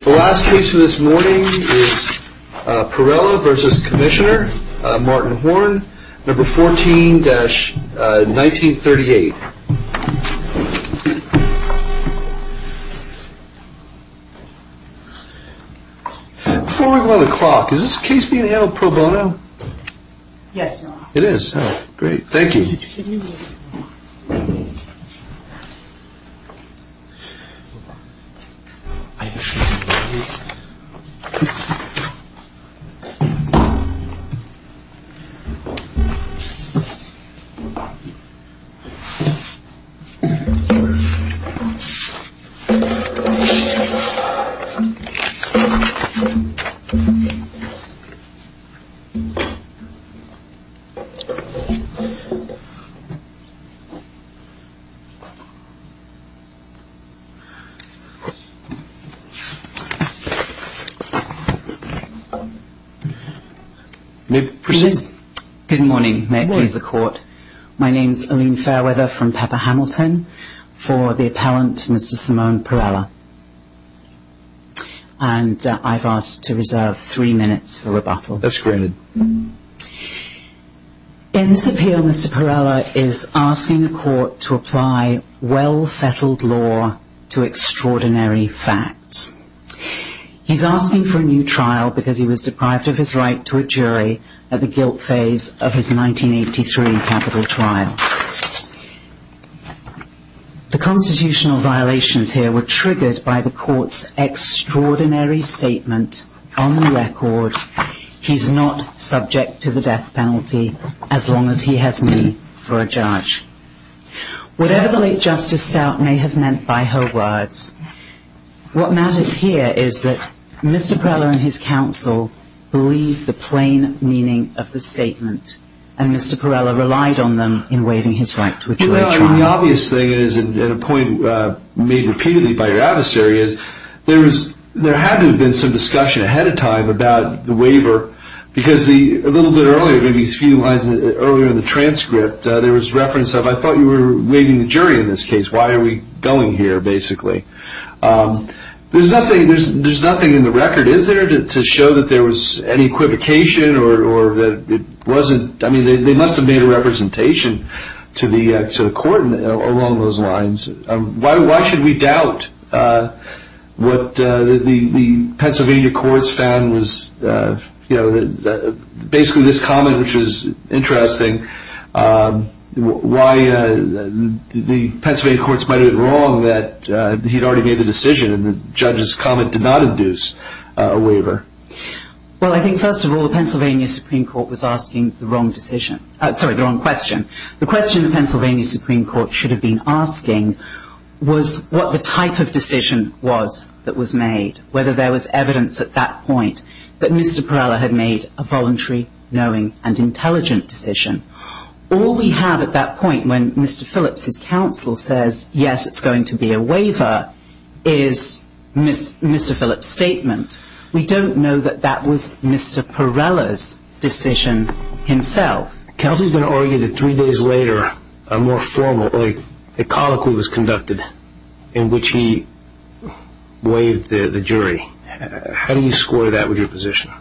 The last case for this morning is Pirela v. Commissioner Martin Horn, No. 14-1938 Before we go on the clock, is this case being handled pro bono? Yes, Your Honor. It is? Oh, great. Thank you. Good morning. May it please the Court. My name is Aline Fairweather from Pepper Hamilton for the appellant Mr. Simone Pirela. And I've asked to reserve three minutes for rebuttal. That's granted. In this appeal, Mr. Pirela is asking the Court to apply well-settled law to extraordinary facts. He's asking for a new trial because he was deprived of his right to a jury at the guilt phase of his 1983 capital trial. The constitutional violations here were triggered by the Court's extraordinary statement on the record, he's not subject to the death penalty as long as he has me for a judge. Whatever the late Justice Stout may have meant by her words, what matters here is that Mr. Pirela and his counsel believed the plain meaning of the statement and Mr. Pirela relied on them in waiving his right to a jury trial. Well, the obvious thing is, and a point made repeatedly by your adversary, is there had to have been some discussion ahead of time about the waiver because a little bit earlier, maybe a few lines earlier in the transcript, there was reference of, I thought you were waiving the jury in this case. Why are we going here, basically? There's nothing in the record, is there, to show that there was any equivocation or that it wasn't? I mean, they must have made a representation to the Court along those lines. Why should we doubt what the Pennsylvania courts found was, you know, basically this comment, which was interesting, why the Pennsylvania courts might have been wrong that he'd already made the decision and the judge's comment did not induce a waiver? Well, I think, first of all, the Pennsylvania Supreme Court was asking the wrong decision. Sorry, the wrong question. The question the Pennsylvania Supreme Court should have been asking was what the type of decision was that was made, whether there was evidence at that point that Mr. Pirela had made a voluntary, knowing, and intelligent decision. All we have at that point when Mr. Phillips' counsel says, yes, it's going to be a waiver, is Mr. Phillips' statement. We don't know that that was Mr. Pirela's decision himself. Counsel is going to argue that three days later a more formal, like, a colloquy was conducted in which he waived the jury. How do you score that with your position?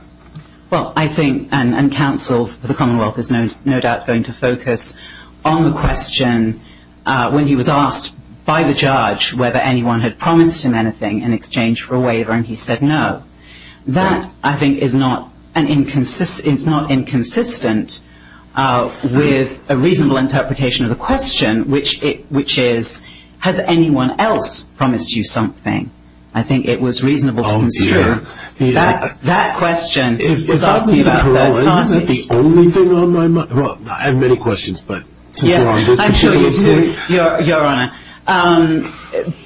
Well, I think, and counsel for the Commonwealth is no doubt going to focus on the question, when he was asked by the judge whether anyone had promised him anything in exchange for a waiver, and he said no. That, I think, is not inconsistent with a reasonable interpretation of the question, which is, has anyone else promised you something? I think it was reasonable to consider that question. If that was Mr. Pirela, isn't it the only thing on my mind? Well, I have many questions, but since we're on this, we should. I'm sure you do, Your Honor.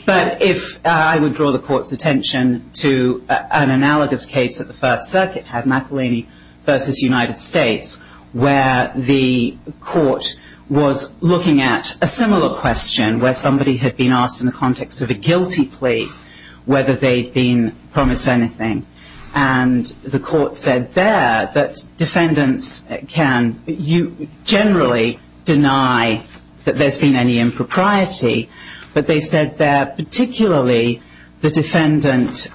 But if I would draw the court's attention to an analogous case that the First Circuit had, McElhinney v. United States, where the court was looking at a similar question where somebody had been asked in the context of a guilty plea whether they'd been promised anything, and the court said there that defendants can generally deny that there's been any impropriety, but they said there particularly the defendant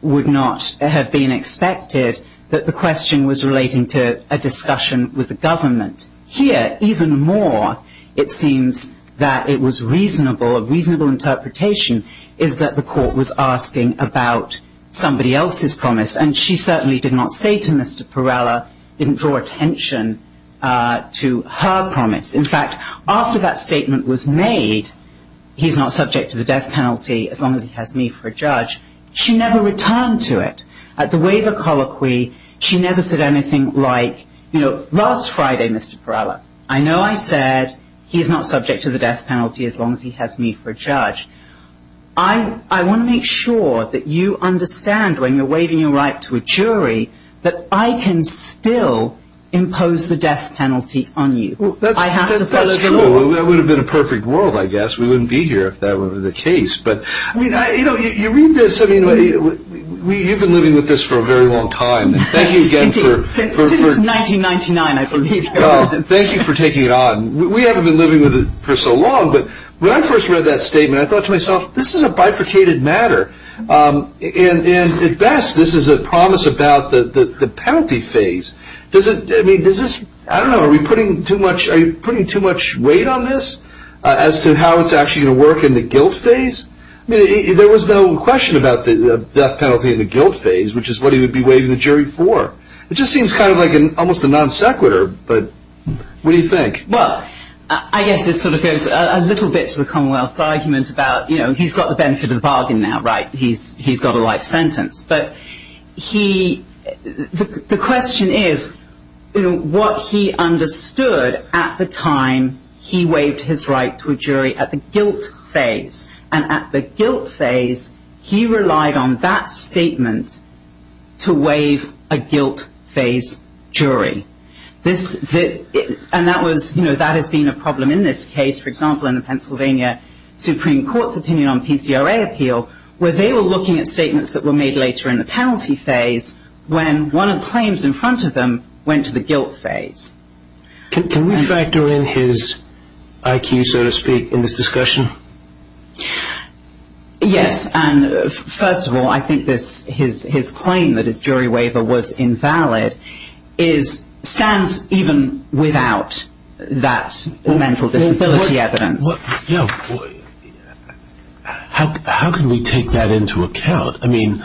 would not have been expected, that the question was relating to a discussion with the government. Here, even more, it seems that it was reasonable, a reasonable interpretation, is that the court was asking about somebody else's promise, and she certainly did not say to Mr. Pirela, didn't draw attention to her promise. In fact, after that statement was made, he's not subject to the death penalty as long as he has me for a judge, she never returned to it. At the waiver colloquy, she never said anything like, you know, last Friday, Mr. Pirela, I know I said he's not subject to the death penalty as long as he has me for a judge. I want to make sure that you understand when you're waiving your right to a jury that I can still impose the death penalty on you. That's true. That would have been a perfect world, I guess. We wouldn't be here if that were the case. But, you know, you read this, I mean, you've been living with this for a very long time. Thank you again for... Indeed, since 1999, I believe. Thank you for taking it on. We haven't been living with it for so long, but when I first read that statement, I thought to myself, this is a bifurcated matter. And at best, this is a promise about the penalty phase. Does it, I mean, does this, I don't know, are we putting too much, are you putting too much weight on this as to how it's actually going to work in the guilt phase? I mean, there was no question about the death penalty in the guilt phase, which is what he would be waiving the jury for. It just seems kind of like almost a non sequitur, but what do you think? Well, I guess this sort of goes a little bit to the Commonwealth's argument about, you know, he's got the benefit of the bargain now, right? He's got a life sentence. But he, the question is what he understood at the time he waived his right to a jury at the guilt phase. And at the guilt phase, he relied on that statement to waive a guilt phase jury. And that was, you know, that has been a problem in this case. For example, in the Pennsylvania Supreme Court's opinion on PCRA appeal, where they were looking at statements that were made later in the penalty phase when one of the claims in front of them went to the guilt phase. Can we factor in his IQ, so to speak, in this discussion? Yes. First of all, I think his claim that his jury waiver was invalid stands even without that mental disability evidence. How can we take that into account? I mean,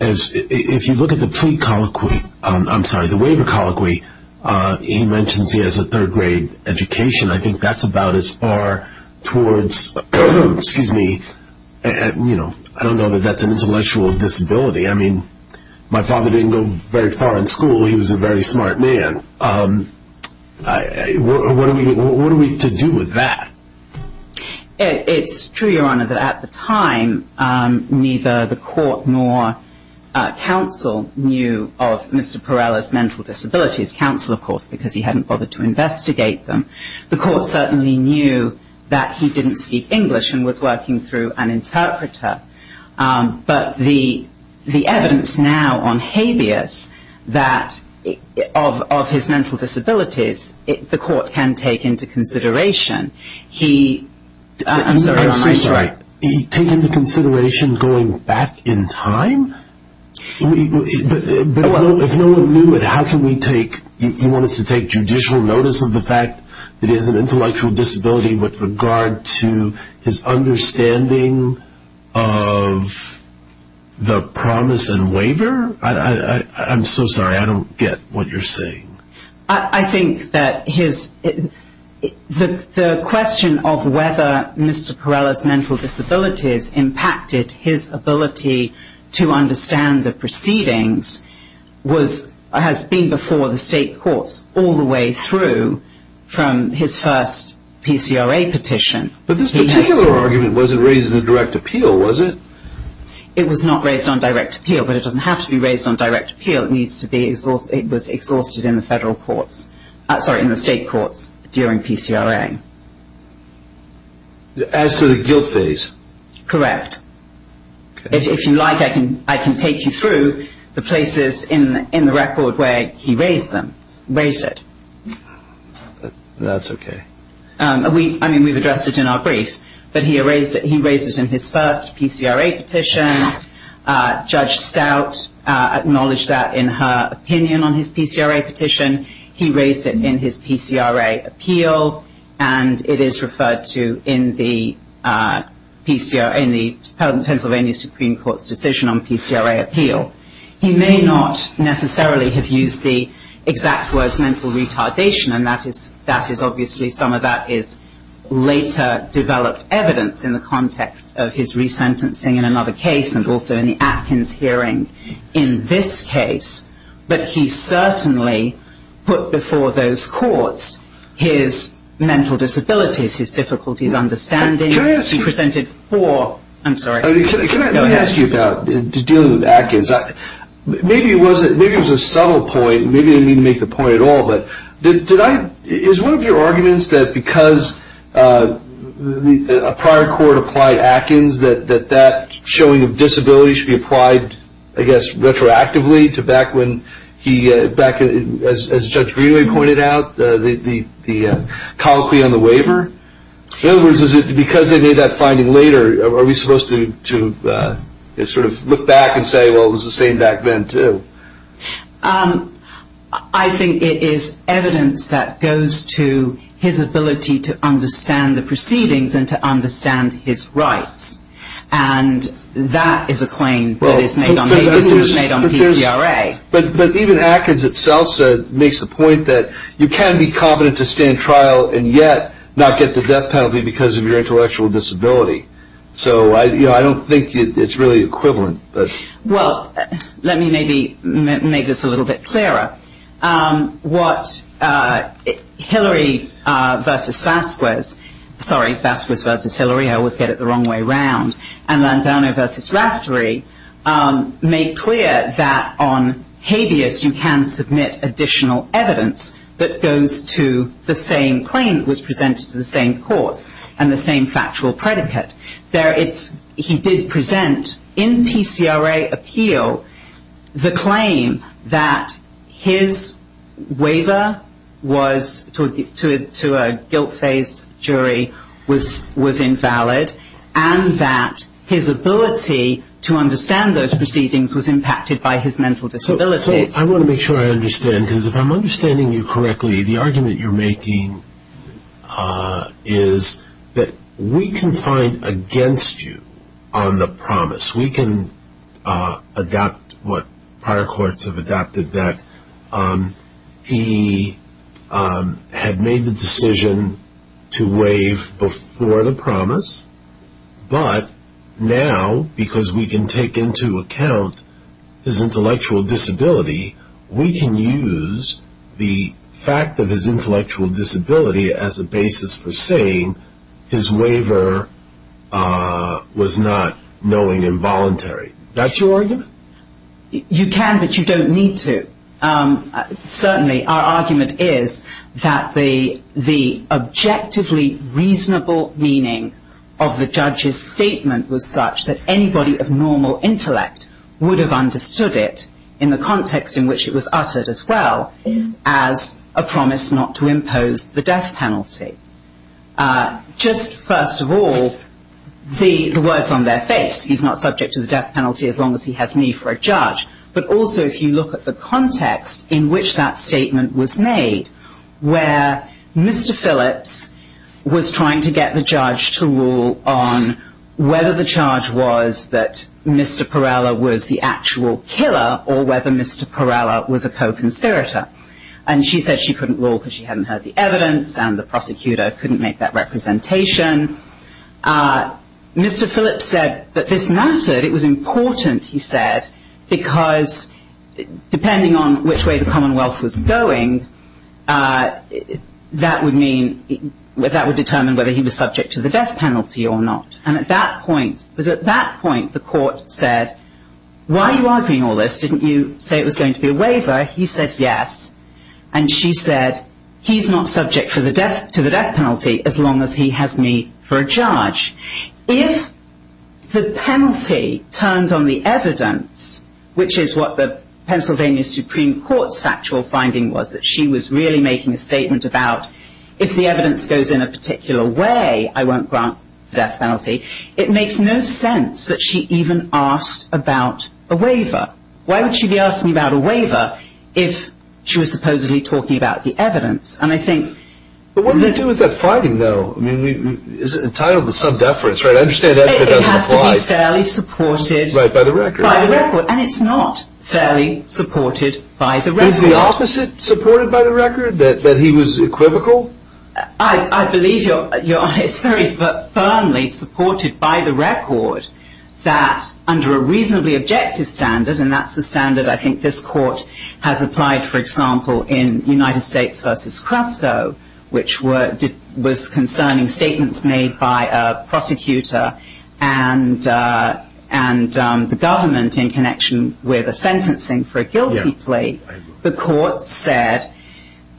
if you look at the plea colloquy, I'm sorry, the waiver colloquy, he mentions he has a third grade education. I think that's about as far towards, excuse me, you know, I don't know that that's an intellectual disability. I mean, my father didn't go very far in school. He was a very smart man. What are we to do with that? It's true, Your Honor, that at the time, neither the court nor counsel knew of Mr. Perella's mental disabilities. Counsel, of course, because he hadn't bothered to investigate them. The court certainly knew that he didn't speak English and was working through an interpreter. But the evidence now on habeas, that of his mental disabilities, the court can take into consideration. He, I'm sorry, Your Honor, I'm sorry. He take into consideration going back in time? But if no one knew it, how can we take, you want us to take judicial notice of the fact that he has an intellectual disability with regard to his understanding of the promise and waiver? I'm so sorry, I don't get what you're saying. I think that his, the question of whether Mr. Perella's mental disabilities impacted his ability to understand the proceedings was, has been before the state courts all the way through from his first PCRA petition. But this particular argument wasn't raised in the direct appeal, was it? It was not raised on direct appeal, but it doesn't have to be raised on direct appeal. It needs to be, it was exhausted in the federal courts, sorry, in the state courts during PCRA. As to the guilt phase? Correct. If you like, I can take you through the places in the record where he raised them, raised it. That's okay. I mean, we've addressed it in our brief, but he raised it in his first PCRA petition. Judge Stout acknowledged that in her opinion on his PCRA petition. He raised it in his PCRA appeal, and it is referred to in the Pennsylvania Supreme Court's decision on PCRA appeal. He may not necessarily have used the exact words mental retardation, and that is obviously some of that is later developed evidence in the context of his resentencing in another case, and also in the Atkins hearing in this case. But he certainly put before those courts his mental disabilities, his difficulties understanding. Can I ask you? He presented four, I'm sorry. Can I ask you about dealing with Atkins? Maybe it was a subtle point, maybe he didn't mean to make the point at all, but did I, is one of your arguments that because a prior court applied Atkins, that that showing of disability should be applied, I guess, retroactively to back when he, as Judge Greenway pointed out, the colloquy on the waiver? In other words, because they made that finding later, are we supposed to sort of look back and say, well, it was the same back then, too? I think it is evidence that goes to his ability to understand the proceedings and to understand his rights, and that is a claim that is made on PCRA. But even Atkins itself makes the point that you can be competent to stay in trial and yet not get the death penalty because of your intellectual disability. So I don't think it's really equivalent. Well, let me maybe make this a little bit clearer. What Hillary v. Vasquez, sorry, Vasquez v. Hillary, I always get it the wrong way around, and Landano v. Raftery make clear that on habeas you can submit additional evidence that goes to the same claim that was presented to the same courts and the same factual predicate. He did present in PCRA appeal the claim that his waiver to a guilt phase jury was invalid and that his ability to understand those proceedings was impacted by his mental disabilities. So I want to make sure I understand, because if I'm understanding you correctly, the argument you're making is that we can find against you on the promise. We can adapt what prior courts have adapted that he had made the decision to waive before the promise, but now because we can take into account his intellectual disability, we can use the fact of his intellectual disability as a basis for saying his waiver was not knowing involuntary. That's your argument? You can, but you don't need to. Certainly our argument is that the objectively reasonable meaning of the judge's statement was such that anybody of normal intellect would have understood it in the context in which it was uttered as well as a promise not to impose the death penalty. Just first of all, the words on their face, he's not subject to the death penalty as long as he has need for a judge, but also if you look at the context in which that statement was made, where Mr. Phillips was trying to get the judge to rule on whether the charge was that Mr. Parrella was the actual killer or whether Mr. Parrella was a co-conspirator. And she said she couldn't rule because she hadn't heard the evidence and the prosecutor couldn't make that representation. Mr. Phillips said that this mattered, it was important, he said, because depending on which way the Commonwealth was going, that would determine whether he was subject to the death penalty or not. And at that point, the court said, why are you arguing all this? Didn't you say it was going to be a waiver? He said yes, and she said, he's not subject to the death penalty as long as he has need for a judge. If the penalty turned on the evidence, which is what the Pennsylvania Supreme Court's factual finding was, that she was really making a statement about if the evidence goes in a particular way, I won't grant the death penalty, it makes no sense that she even asked about a waiver. Why would she be asking about a waiver if she was supposedly talking about the evidence? And I think... But what did it do with that finding, though? I mean, it's entitled the sub-deference, right? I understand that doesn't apply. It has to be fairly supported... Right, by the record. By the record, and it's not fairly supported by the record. Is the opposite supported by the record, that he was equivocal? I believe, Your Honor, it's very firmly supported by the record that under a reasonably objective standard, and that's the standard I think this court has applied, for example, in United States v. Crusco, which was concerning statements made by a prosecutor and the government in connection with a sentencing for a guilty plea, the court said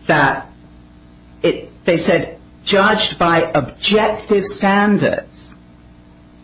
that, they said, judged by objective standards,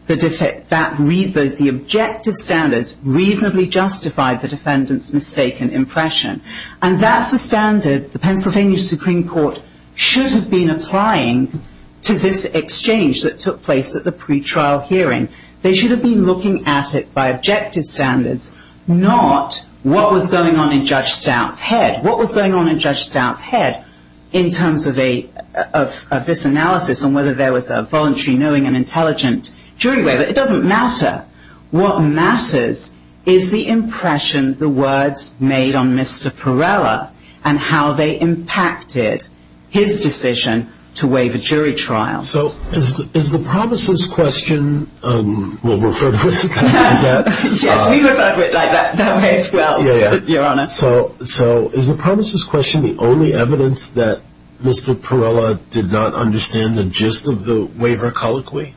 the objective standards reasonably justified the defendant's mistaken impression. And that's the standard the Pennsylvania Supreme Court should have been applying to this exchange that took place at the pretrial hearing. They should have been looking at it by objective standards, not what was going on in Judge Stout's head. What was going on in Judge Stout's head in terms of this analysis and whether there was a voluntary knowing and intelligent jury waiver. It doesn't matter. What matters is the impression the words made on Mr. Perrella and how they impacted his decision to waive a jury trial. So is the promises question, we'll refer to it, is that? Yes, we refer to it that way as well, Your Honor. So is the promises question the only evidence that Mr. Perrella did not understand the gist of the waiver colloquy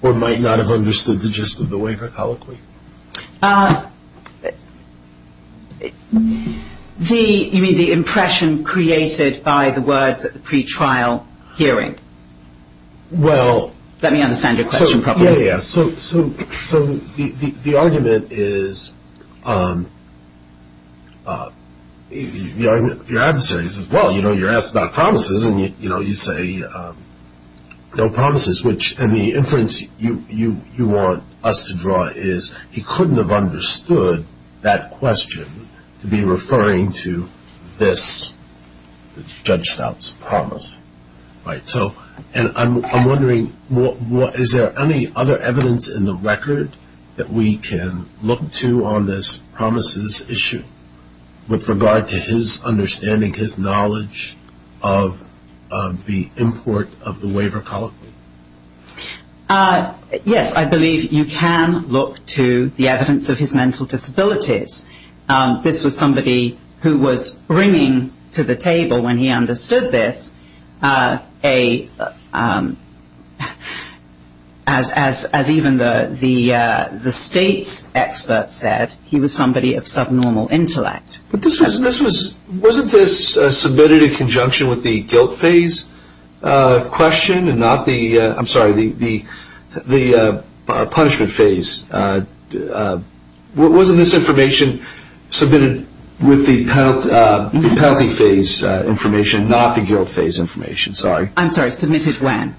or might not have understood the gist of the waiver colloquy? You mean the impression created by the words at the pretrial hearing? Let me understand your question properly. So the argument is, your adversary says, well, you know, you're asked about promises and you say no promises, which in the inference you want us to draw is he couldn't have understood that question to be referring to this, Judge Stout's promise. And I'm wondering, is there any other evidence in the record that we can look to on this promises issue with regard to his understanding, his knowledge of the import of the waiver colloquy? Yes, I believe you can look to the evidence of his mental disabilities. This was somebody who was bringing to the table when he understood this, as even the state's experts said, he was somebody of subnormal intellect. Wasn't this submitted in conjunction with the guilt phase question and not the punishment phase? Wasn't this information submitted with the penalty phase information, not the guilt phase information? I'm sorry, submitted when?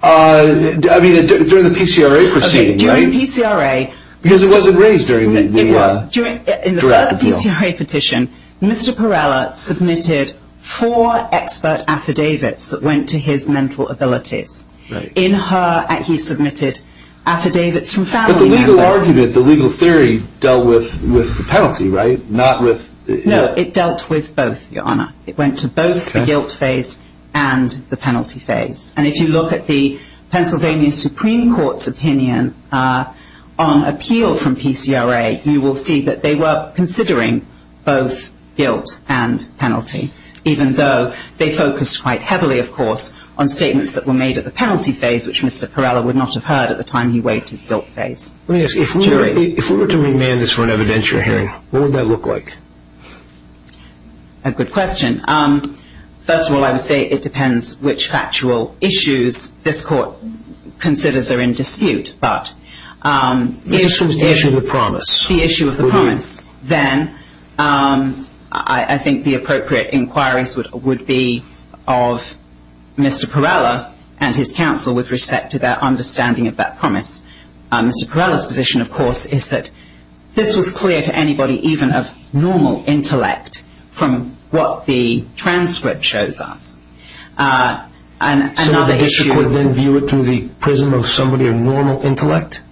During the PCRA proceeding, right? Yes, in the first PCRA petition, Mr. Perella submitted four expert affidavits that went to his mental abilities. In her, he submitted affidavits from family members. But the legal argument, the legal theory dealt with the penalty, right? No, it dealt with both, Your Honor. It went to both the guilt phase and the penalty phase. And if you look at the Pennsylvania Supreme Court's opinion on appeal from PCRA, you will see that they were considering both guilt and penalty, even though they focused quite heavily, of course, on statements that were made at the penalty phase, which Mr. Perella would not have heard at the time he waived his guilt phase. Let me ask you, if we were to remand this for an evidentiary hearing, what would that look like? A good question. First of all, I would say it depends which factual issues this court considers are in dispute. But the issue of the promise, then I think the appropriate inquiries would be of Mr. Perella and his counsel with respect to their understanding of that promise. Mr. Perella's position, of course, is that this was clear to anybody, even of normal intellect, from what the transcript shows us. So the district would then view it through the prism of somebody of normal intellect?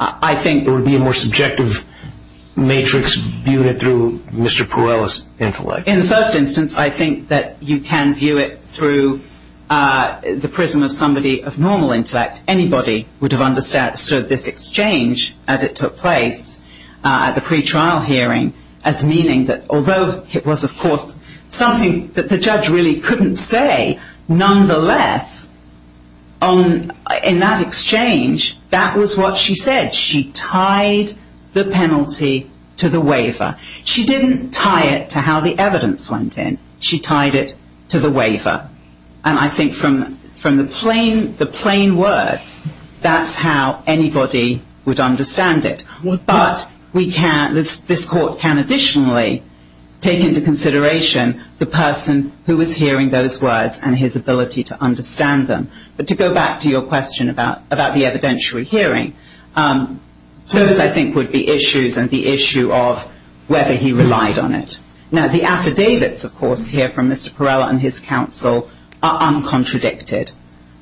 I think there would be a more subjective matrix viewed through Mr. Perella's intellect. In the first instance, I think that you can view it through the prism of somebody of normal intellect. Anybody would have understood this exchange as it took place at the pretrial hearing as meaning that although it was, of course, something that the judge really couldn't say, nonetheless, in that exchange, that was what she said. She tied the penalty to the waiver. She didn't tie it to how the evidence went in. She tied it to the waiver. And I think from the plain words, that's how anybody would understand it. But this court can additionally take into consideration the person who was hearing those words and his ability to understand them. But to go back to your question about the evidentiary hearing, those, I think, would be issues and the issue of whether he relied on it. Now, the affidavits, of course, here from Mr. Perella and his counsel are uncontradicted.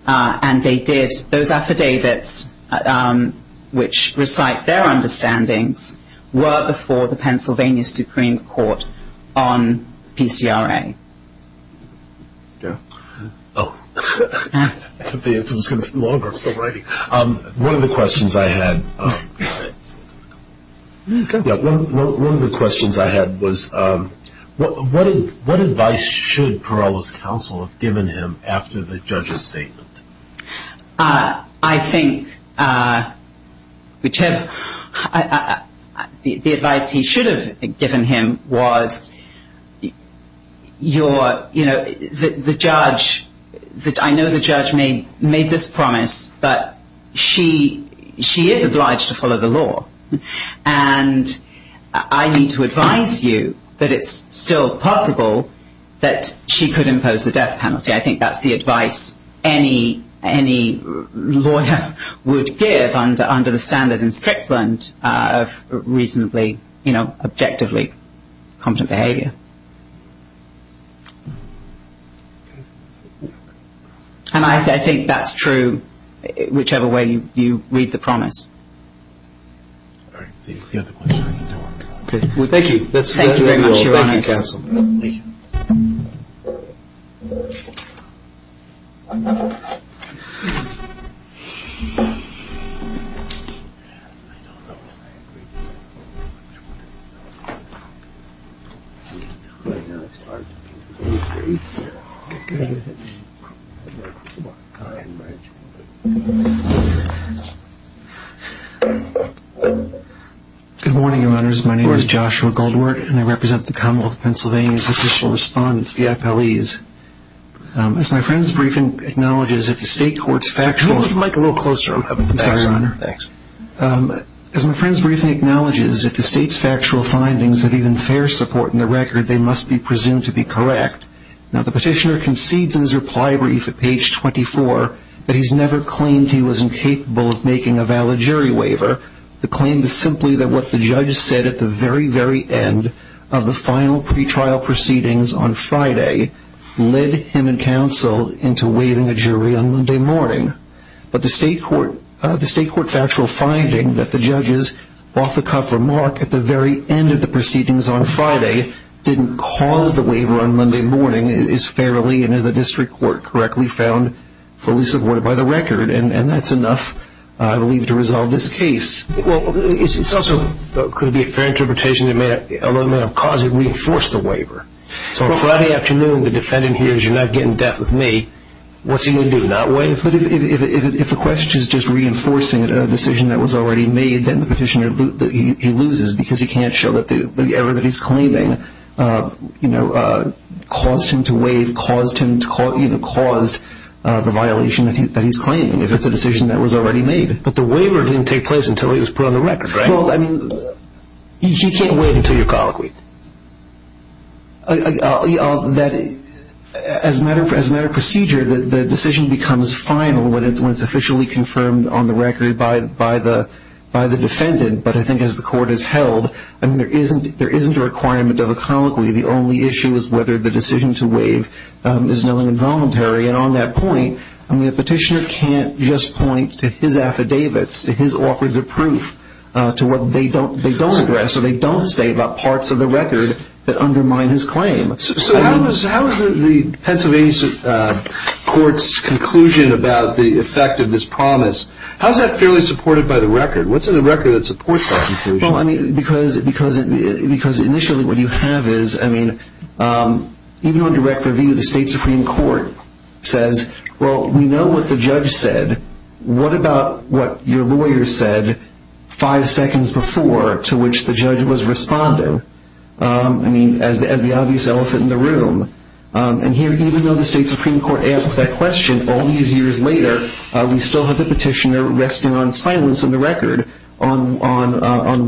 And they did, those affidavits, which recite their understandings, were before the Pennsylvania Supreme Court on PCRA. Oh, I thought the answer was going to be longer. I'm still writing. One of the questions I had was, what advice should Perella's counsel have given him after the judge's statement? I think the advice he should have given him was, you know, the judge, I know the judge made this promise, but she is obliged to follow the law. And I need to advise you that it's still possible that she could impose the death penalty. I think that's the advice any lawyer would give under the standard in Strickland of reasonably, you know, objectively competent behavior. And I think that's true whichever way you read the promise. All right. Thank you. Thank you very much, Your Honour. Thank you, counsel. Thank you. Thank you. My name is Joshua Goldworth, and I represent the Commonwealth of Pennsylvania's official respondents, the FLEs. As my friend's briefing acknowledges, if the state court's factual… Move the mic a little closer. I'm sorry, Your Honour. Thanks. As my friend's briefing acknowledges, if the state's factual findings have even fair support in the record, they must be presumed to be correct. Now, the petitioner concedes in his reply brief at page 24 that he's never claimed he was incapable of making a valid jury waiver. The claim is simply that what the judge said at the very, very end of the final pretrial proceedings on Friday led him and counsel into waiving a jury on Monday morning. But the state court factual finding that the judge's off-the-cuff remark at the very end of the proceedings on Friday didn't cause the waiver on Monday morning is fairly and, as the district court correctly found, fully supported by the record. And that's enough, I believe, to resolve this case. Well, it also could be a fair interpretation that it may have caused him to reinforce the waiver. So on Friday afternoon, the defendant hears, you're not getting death with me, what's he going to do, not waive? If the question is just reinforcing a decision that was already made, then the petitioner loses because he can't show that the error that he's claiming caused him to waive, caused the violation that he's claiming, if it's a decision that was already made. But the waiver didn't take place until it was put on the record, right? Well, I mean... He can't waive until you're colloquy. As a matter of procedure, the decision becomes final when it's officially confirmed on the record by the defendant. But I think as the court has held, there isn't a requirement of a colloquy. The only issue is whether the decision to waive is knowingly involuntary. And on that point, the petitioner can't just point to his affidavits, to his offers of proof, to what they don't address or they don't say about parts of the record that undermine his claim. So how is the Pennsylvania court's conclusion about the effect of this promise, how is that fairly supported by the record? What's in the record that supports that conclusion? Well, I mean, because initially what you have is, I mean, even on direct review, the state supreme court says, well, we know what the judge said. What about what your lawyer said five seconds before to which the judge was responding? I mean, as the obvious elephant in the room. And here, even though the state supreme court asks that question, all these years later, we still have the petitioner resting on silence in the record on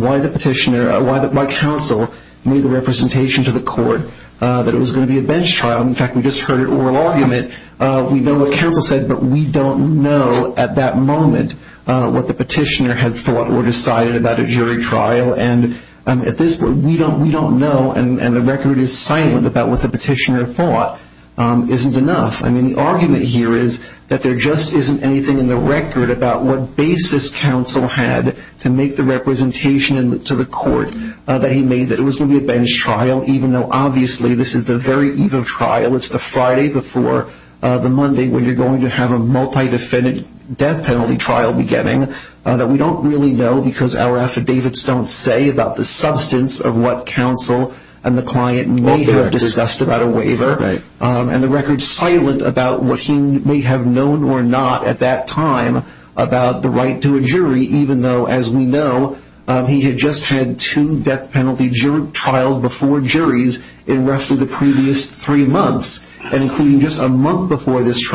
why the petitioner, why counsel made the representation to the court that it was going to be a bench trial. In fact, we just heard an oral argument. We know what counsel said, but we don't know at that moment what the petitioner had thought or decided about a jury trial. And at this point, we don't know, and the record is silent about what the petitioner thought isn't enough. I mean, the argument here is that there just isn't anything in the record about what basis counsel had to make the representation to the court that he made that it was going to be a bench trial, even though obviously this is the very eve of trial. It's the Friday before the Monday when you're going to have a multi-defendant death penalty trial beginning that we don't really know because our affidavits don't say about the substance of what counsel and the client may have discussed about a waiver. And the record's silent about what he may have known or not at that time about the right to a jury, even though, as we know, he had just had two death penalty trials before juries in roughly the previous three months, and including just a month before this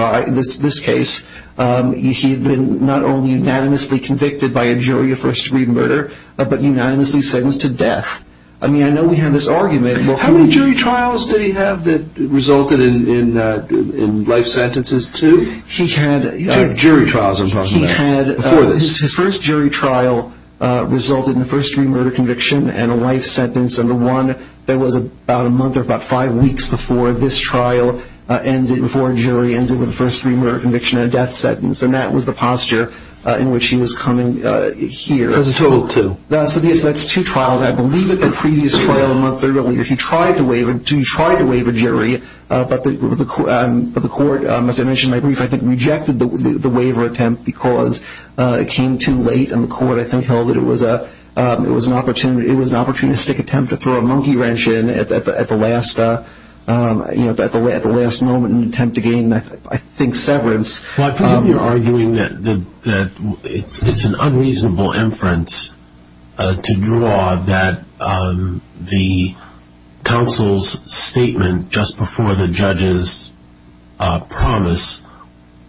case, he had been not only unanimously convicted by a jury of first-degree murder, but unanimously sentenced to death. I mean, I know we have this argument. How many jury trials did he have that resulted in life sentences, two? He had... Jury trials, I'm talking about, before this. His first jury trial resulted in a first-degree murder conviction and a life sentence, and the one that was about a month or about five weeks before this trial ended, before a jury ended with a first-degree murder conviction and a death sentence, and that was the posture in which he was coming here. So that's two trials. I believe at the previous trial a month earlier he tried to waive a jury, but the court, as I mentioned in my brief, I think rejected the waiver attempt because it came too late and the court, I think, held that it was an opportunistic attempt to throw a monkey wrench in at the last moment in an attempt to gain, I think, severance. Well, I believe you're arguing that it's an unreasonable inference to draw that the counsel's statement just before the judge's promise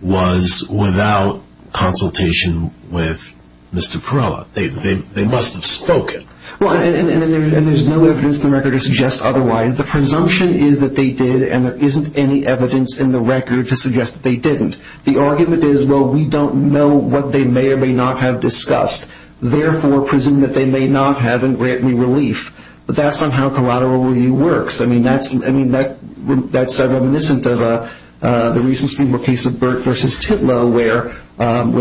was without consultation with Mr. Perella. They must have spoken. Well, and there's no evidence in the record to suggest otherwise. The presumption is that they did, and there isn't any evidence in the record to suggest that they didn't. The argument is, well, we don't know what they may or may not have discussed, therefore presume that they may not have and grant me relief. But that's not how collateral review works. I mean, that's reminiscent of the recent Supreme Court case of Burt v. Titlow where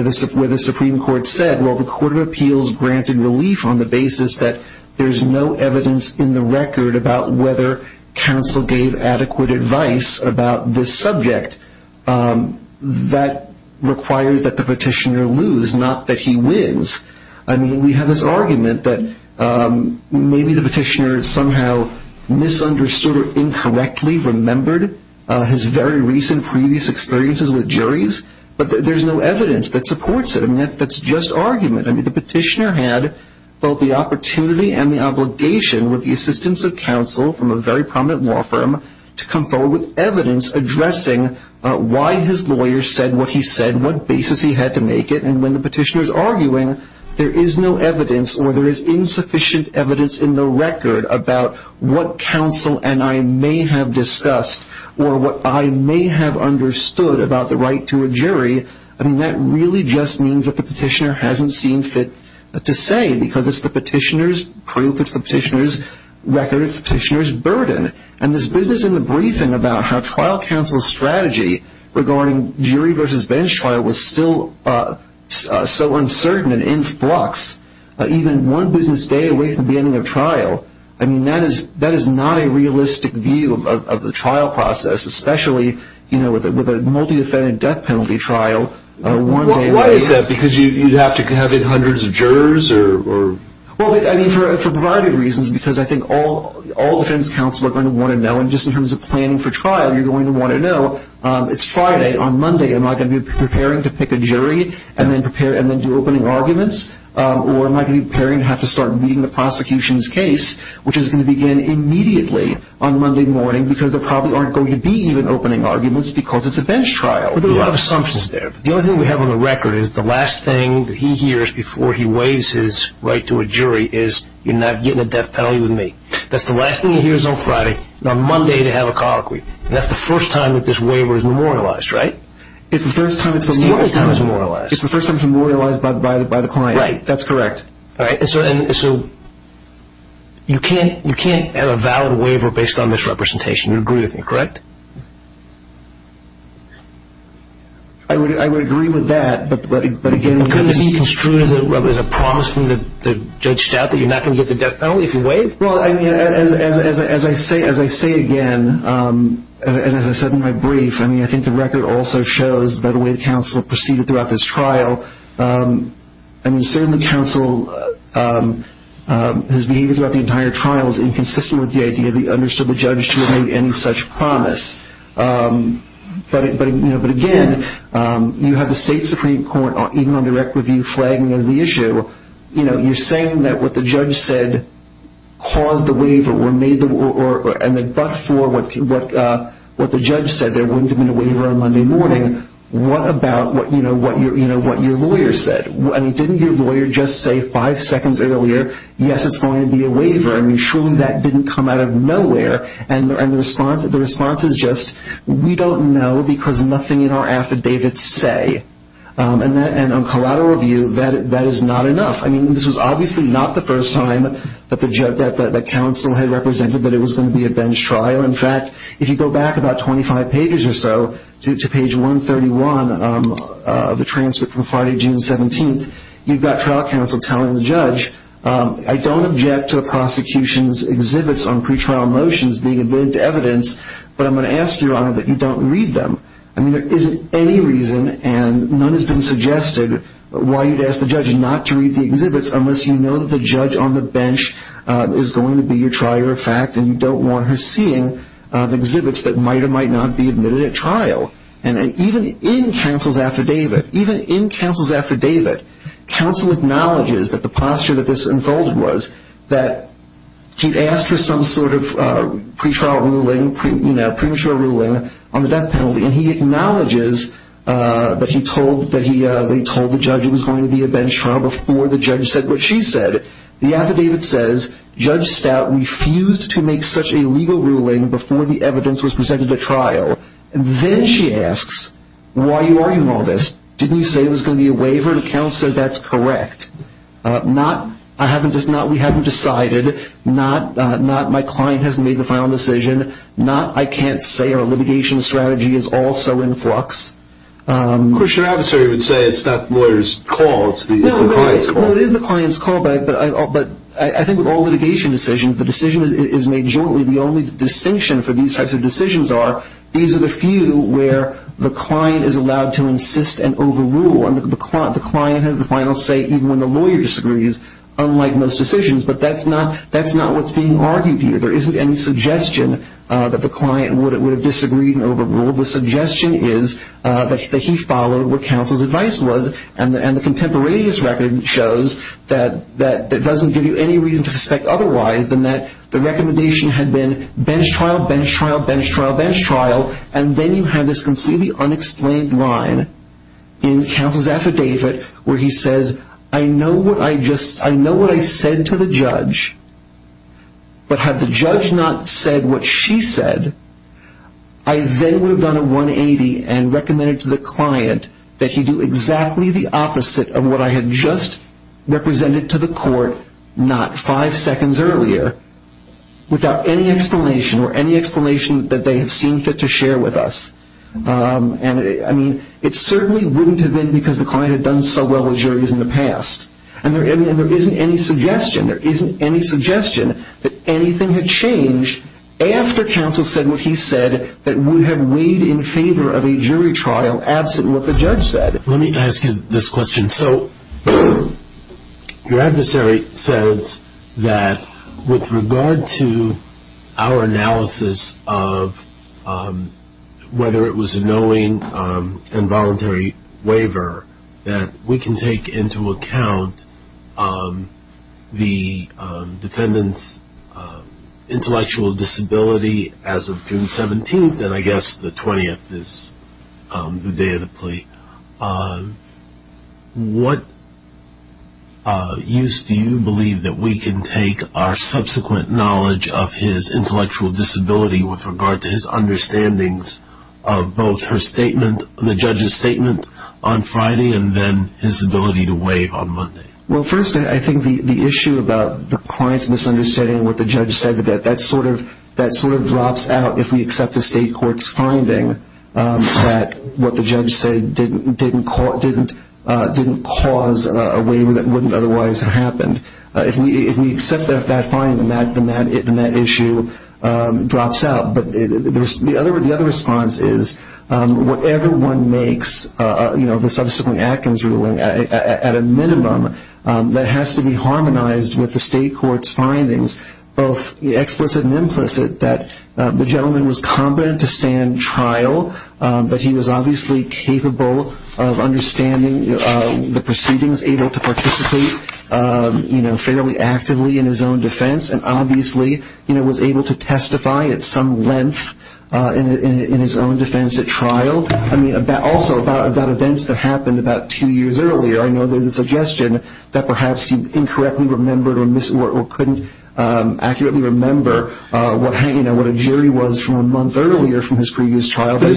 the Supreme Court said, well, the Court of Appeals granted relief on the basis that there's no evidence in the record about whether counsel gave adequate advice about this subject. That requires that the petitioner lose, not that he wins. I mean, we have this argument that maybe the petitioner somehow misunderstood or incorrectly remembered his very recent previous experiences with juries, but there's no evidence that supports it. I mean, that's just argument. I mean, the petitioner had both the opportunity and the obligation with the assistance of counsel from a very prominent law firm to come forward with evidence addressing why his lawyer said what he said, what basis he had to make it, and when the petitioner is arguing there is no evidence or there is insufficient evidence in the record about what counsel and I may have discussed or what I may have understood about the right to a jury, I mean, that really just means that the petitioner hasn't seen fit to say because it's the petitioner's proof, it's the petitioner's record, it's the petitioner's burden. And this business in the briefing about how trial counsel's strategy regarding jury versus bench trial was still so uncertain and in flux, even one business day away from the ending of trial, I mean, that is not a realistic view of the trial process, especially with a multi-defendant death penalty trial. Why is that? Because you'd have to have in hundreds of jurors? Well, I mean, for a variety of reasons, because I think all defense counsel are going to want to know, and just in terms of planning for trial, you're going to want to know, it's Friday. On Monday, am I going to be preparing to pick a jury and then do opening arguments? Or am I going to be preparing to have to start meeting the prosecution's case, which is going to begin immediately on Monday morning, because there probably aren't going to be even opening arguments because it's a bench trial. There are a lot of assumptions there. The only thing we have on the record is the last thing that he hears before he waives his right to a jury is, you're not getting a death penalty with me. That's the last thing he hears on Friday. On Monday, they have a colloquy. And that's the first time that this waiver is memorialized, right? It's the first time it's been memorialized. It's the only time it's been memorialized. It's the first time it's been memorialized by the client. Right. That's correct. All right. So you can't have a valid waiver based on this representation. You would agree with me, correct? I would agree with that. But, again, this is… Could this be construed as a promise from Judge Stout that you're not going to get the death penalty if you waive? Well, I mean, as I say again, and as I said in my brief, I mean, I think the record also shows, by the way the counsel proceeded throughout this trial, I mean, certainly counsel has behaved throughout the entire trial as inconsistent with the idea that he understood the judge to have made any such promise. But, again, you have the State Supreme Court even on direct review flagging the issue. You know, you're saying that what the judge said caused the waiver and that but for what the judge said there wouldn't have been a waiver on Monday morning. What about what your lawyer said? I mean, didn't your lawyer just say five seconds earlier, yes, it's going to be a waiver? I mean, surely that didn't come out of nowhere. And the response is just, we don't know because nothing in our affidavits say. And on collateral review, that is not enough. I mean, this was obviously not the first time that the counsel had represented that it was going to be a bench trial. In fact, if you go back about 25 pages or so to page 131 of the transcript from Friday, June 17th, you've got trial counsel telling the judge, I don't object to the prosecution's exhibits on pretrial motions being added to evidence, but I'm going to ask you, Your Honor, that you don't read them. I mean, there isn't any reason, and none has been suggested, why you'd ask the judge not to read the exhibits unless you know that the judge on the bench is going to be your trier of fact and you don't want her seeing exhibits that might or might not be admitted at trial. And even in counsel's affidavit, even in counsel's affidavit, counsel acknowledges that the posture that this unfolded was that he'd asked for some sort of pretrial ruling, premature ruling on the death penalty, and he acknowledges that he told the judge it was going to be a bench trial before the judge said what she said. The affidavit says, Judge Stout refused to make such a legal ruling before the evidence was presented at trial. Then she asks, why are you arguing all this? Didn't you say it was going to be a waiver? And counsel said, that's correct. Not, we haven't decided. Not, my client hasn't made the final decision. Not, I can't say our litigation strategy is also in flux. Of course, your adversary would say it's not the lawyer's call, it's the client's call. But I think with all litigation decisions, the decision is made jointly. The only distinction for these types of decisions are these are the few where the client is allowed to insist and overrule. And the client has the final say even when the lawyer disagrees, unlike most decisions. But that's not what's being argued here. There isn't any suggestion that the client would have disagreed and overruled. The suggestion is that he followed what counsel's advice was. And the contemporaneous record shows that it doesn't give you any reason to suspect otherwise than that the recommendation had been bench trial, bench trial, bench trial, bench trial. And then you have this completely unexplained line in counsel's affidavit where he says, I know what I said to the judge, but had the judge not said what she said, I then would have done a 180 and recommended to the client that he do exactly the opposite of what I had just represented to the court, not five seconds earlier, without any explanation or any explanation that they have seen fit to share with us. I mean, it certainly wouldn't have been because the client had done so well with juries in the past. And there isn't any suggestion, there isn't any suggestion that anything had changed after counsel said what he said that would have weighed in favor of a jury trial, absent what the judge said. Let me ask you this question. So your adversary says that with regard to our analysis of whether it was a knowing and voluntary waiver that we can take into account the defendant's intellectual disability as of June 17th, and I guess the 20th is the day of the plea. What use do you believe that we can take our subsequent knowledge of his intellectual disability with regard to his understandings of both her statement, the judge's statement on Friday, and then his ability to waive on Monday? Well, first, I think the issue about the client's misunderstanding of what the judge said, that sort of drops out if we accept the state court's finding that what the judge said didn't cause a waiver that wouldn't otherwise have happened. If we accept that finding, then that issue drops out. But the other response is whatever one makes of the subsequent acting's ruling, at a minimum that has to be harmonized with the state court's findings, both explicit and implicit, that the gentleman was competent to stand trial, but he was obviously capable of understanding the proceedings, able to participate fairly actively in his own defense, and obviously was able to testify at some length in his own defense at trial. Also, about events that happened about two years earlier, I know there's a suggestion that perhaps he incorrectly remembered or couldn't accurately remember what a jury was from a month earlier from his previous trial. But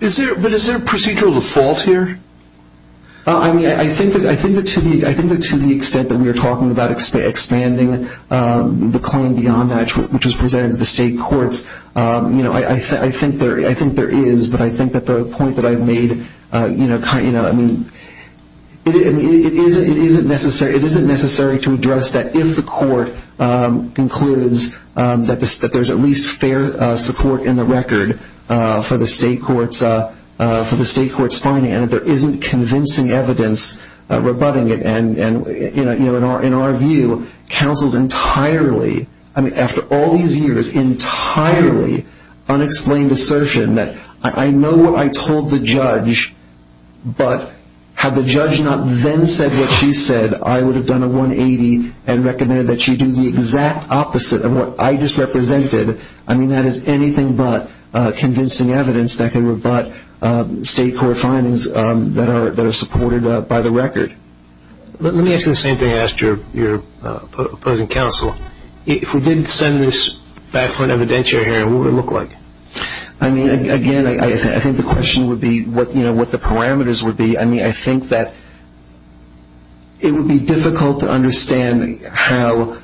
is there a procedural default here? I think that to the extent that we are talking about expanding the claim beyond that, which was presented to the state courts, I think there is. But I think that the point that I've made, it isn't necessary to address that if the court concludes that there's at least fair support in the record for the state court's finding and that there isn't convincing evidence rebutting it. In our view, counsels entirely, I mean, after all these years, entirely unexplained assertion that I know what I told the judge, but had the judge not then said what she said, I would have done a 180 and recommended that she do the exact opposite of what I just represented. I mean, that is anything but convincing evidence that can rebut state court findings that are supported by the record. Let me ask you the same thing I asked your opposing counsel. If we didn't send this back for an evidentiary hearing, what would it look like? I mean, again, I think the question would be what the parameters would be. I mean, I think that it would be difficult to understand how,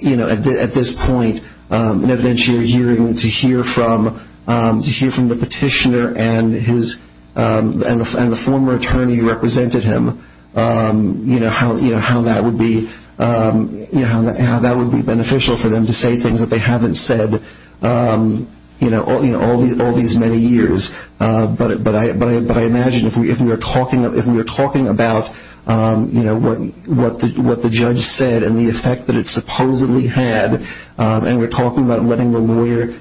you know, at this point, an evidentiary hearing to hear from the petitioner and the former attorney who represented him, you know, how that would be beneficial for them to say things that they haven't said, you know, all these many years. But I imagine if we were talking about, you know, what the judge said and the effect that it supposedly had, and we're talking about letting the lawyer,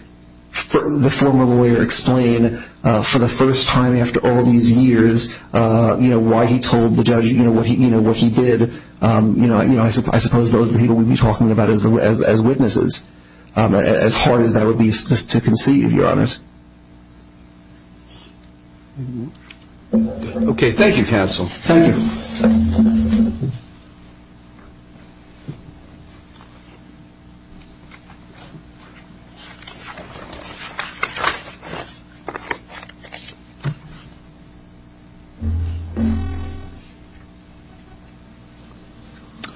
the former lawyer explain for the first time after all these years, you know, why he told the judge, you know, what he did, you know, I suppose those are the people we'd be talking about as witnesses. As hard as that would be to conceive, to be honest. Okay. Thank you, counsel. Thank you.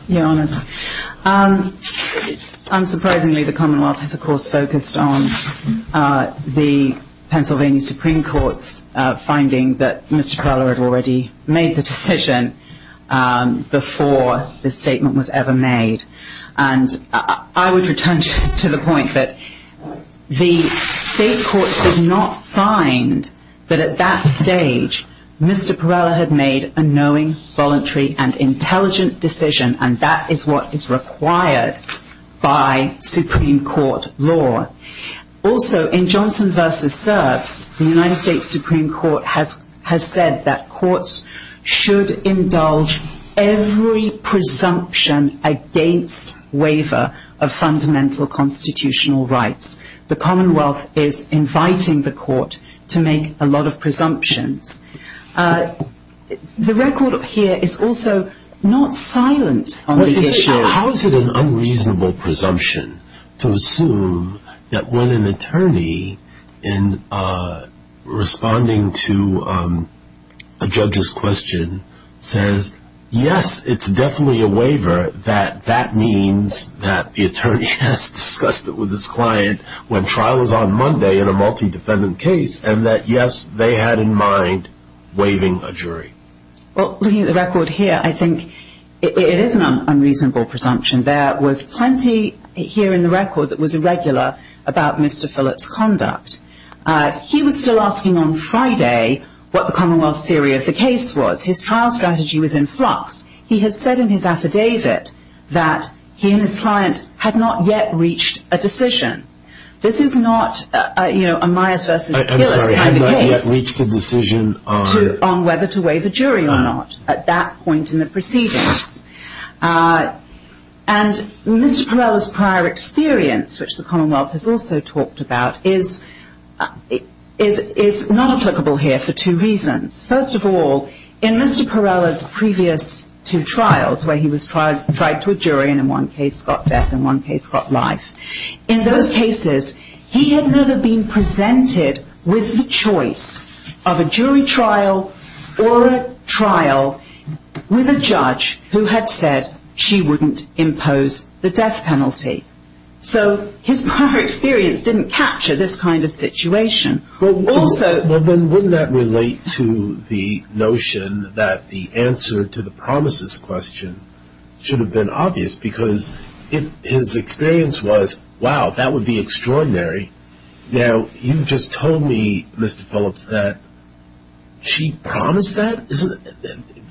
Your Honor, unsurprisingly, the Commonwealth has, of course, focused on the Pennsylvania Supreme Court's finding that Mr. Perrella had already made the decision before this statement was ever made. And I would return to the point that the state court did not find that at that stage, Mr. Perrella had made a knowing, voluntary, and intelligent decision, and that is what is required by Supreme Court law. Also, in Johnson v. Serbs, the United States Supreme Court has said that courts should indulge every presumption against waiver of fundamental constitutional rights. The Commonwealth is inviting the court to make a lot of presumptions. The record here is also not silent on the issue. How is it an unreasonable presumption to assume that when an attorney, in responding to a judge's question, says, yes, it's definitely a waiver, that that means that the attorney has discussed it with his client when trial is on Monday in a multi-defendant case, and that, yes, they had in mind waiving a jury? Well, looking at the record here, I think it is an unreasonable presumption. There was plenty here in the record that was irregular about Mr. Phillips' conduct. He was still asking on Friday what the Commonwealth's theory of the case was. His trial strategy was in flux. He has said in his affidavit that he and his client had not yet reached a decision. This is not a Myers v. Gillis kind of case on whether to waive a jury or not at that point in the proceedings. And Mr. Perrella's prior experience, which the Commonwealth has also talked about, is not applicable here for two reasons. First of all, in Mr. Perrella's previous two trials, where he was tried to a jury and in one case got death and in one case got life, in those cases he had never been presented with the choice of a jury trial or a trial with a judge who had said she wouldn't impose the death penalty. So his prior experience didn't capture this kind of situation. Well, then wouldn't that relate to the notion that the answer to the promises question should have been obvious? Because his experience was, wow, that would be extraordinary. Now, you just told me, Mr. Phillips, that she promised that?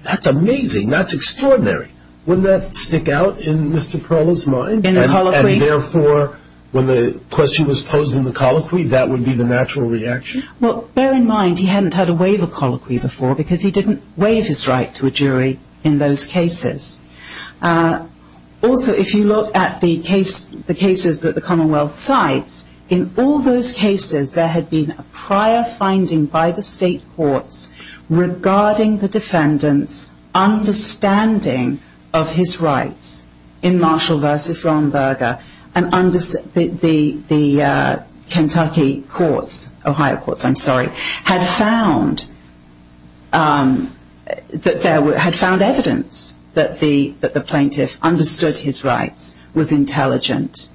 That's amazing. That's extraordinary. Wouldn't that stick out in Mr. Perrella's mind? In the colloquy? And, therefore, when the question was posed in the colloquy, that would be the natural reaction? Well, bear in mind he hadn't had a waiver colloquy before because he didn't waive his right to a jury in those cases. Also, if you look at the cases that the Commonwealth cites, in all those cases there had been a prior finding by the state courts regarding the defendant's understanding of his rights in Marshall v. Lomberga and the Kentucky courts, Ohio courts, I'm sorry, had found evidence that the plaintiff understood his rights, was intelligent.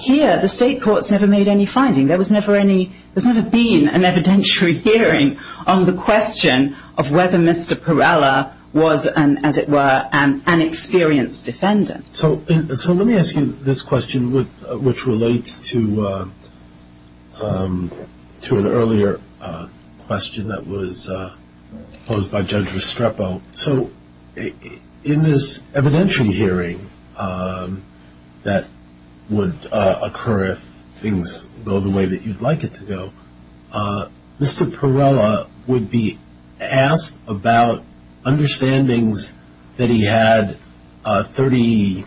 Here, the state courts never made any finding. There's never been an evidentiary hearing on the question of whether Mr. Perrella was, as it were, an experienced defendant. So let me ask you this question, which relates to an earlier question that was posed by Judge Restrepo. So in this evidentiary hearing that would occur if things go the way that you'd like it to go, Mr. Perrella would be asked about understandings that he had 30,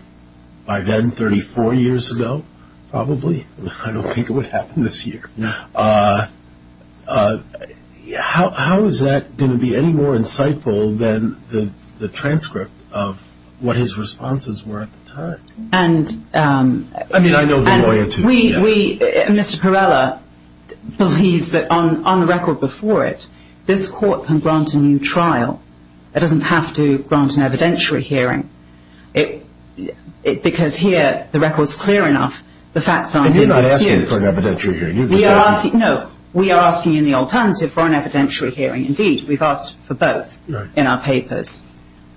by then 34 years ago, probably. I don't think it would happen this year. How is that going to be any more insightful than the transcript of what his responses were at the time? I mean, I know the lawyer, too. Mr. Perrella believes that on the record before it, this court can grant a new trial. It doesn't have to grant an evidentiary hearing because here the record's clear enough. The facts aren't being disputed. You're not asking for an evidentiary hearing. No, we are asking in the alternative for an evidentiary hearing. Indeed, we've asked for both in our papers.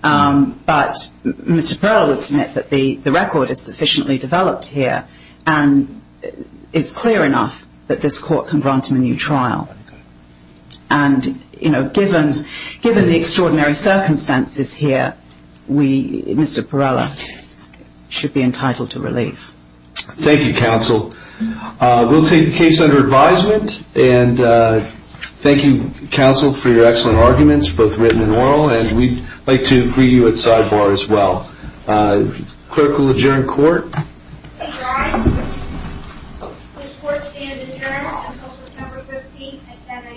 But Mr. Perrella would submit that the record is sufficiently developed here and is clear enough that this court can grant him a new trial. And given the extraordinary circumstances here, Mr. Perrella should be entitled to relief. Thank you, counsel. We'll take the case under advisement. And thank you, counsel, for your excellent arguments, both written and oral. And we'd like to greet you at sidebar as well. Clerk will adjourn court. Please rise. This court stands adjourned until September 15th at 10 a.m.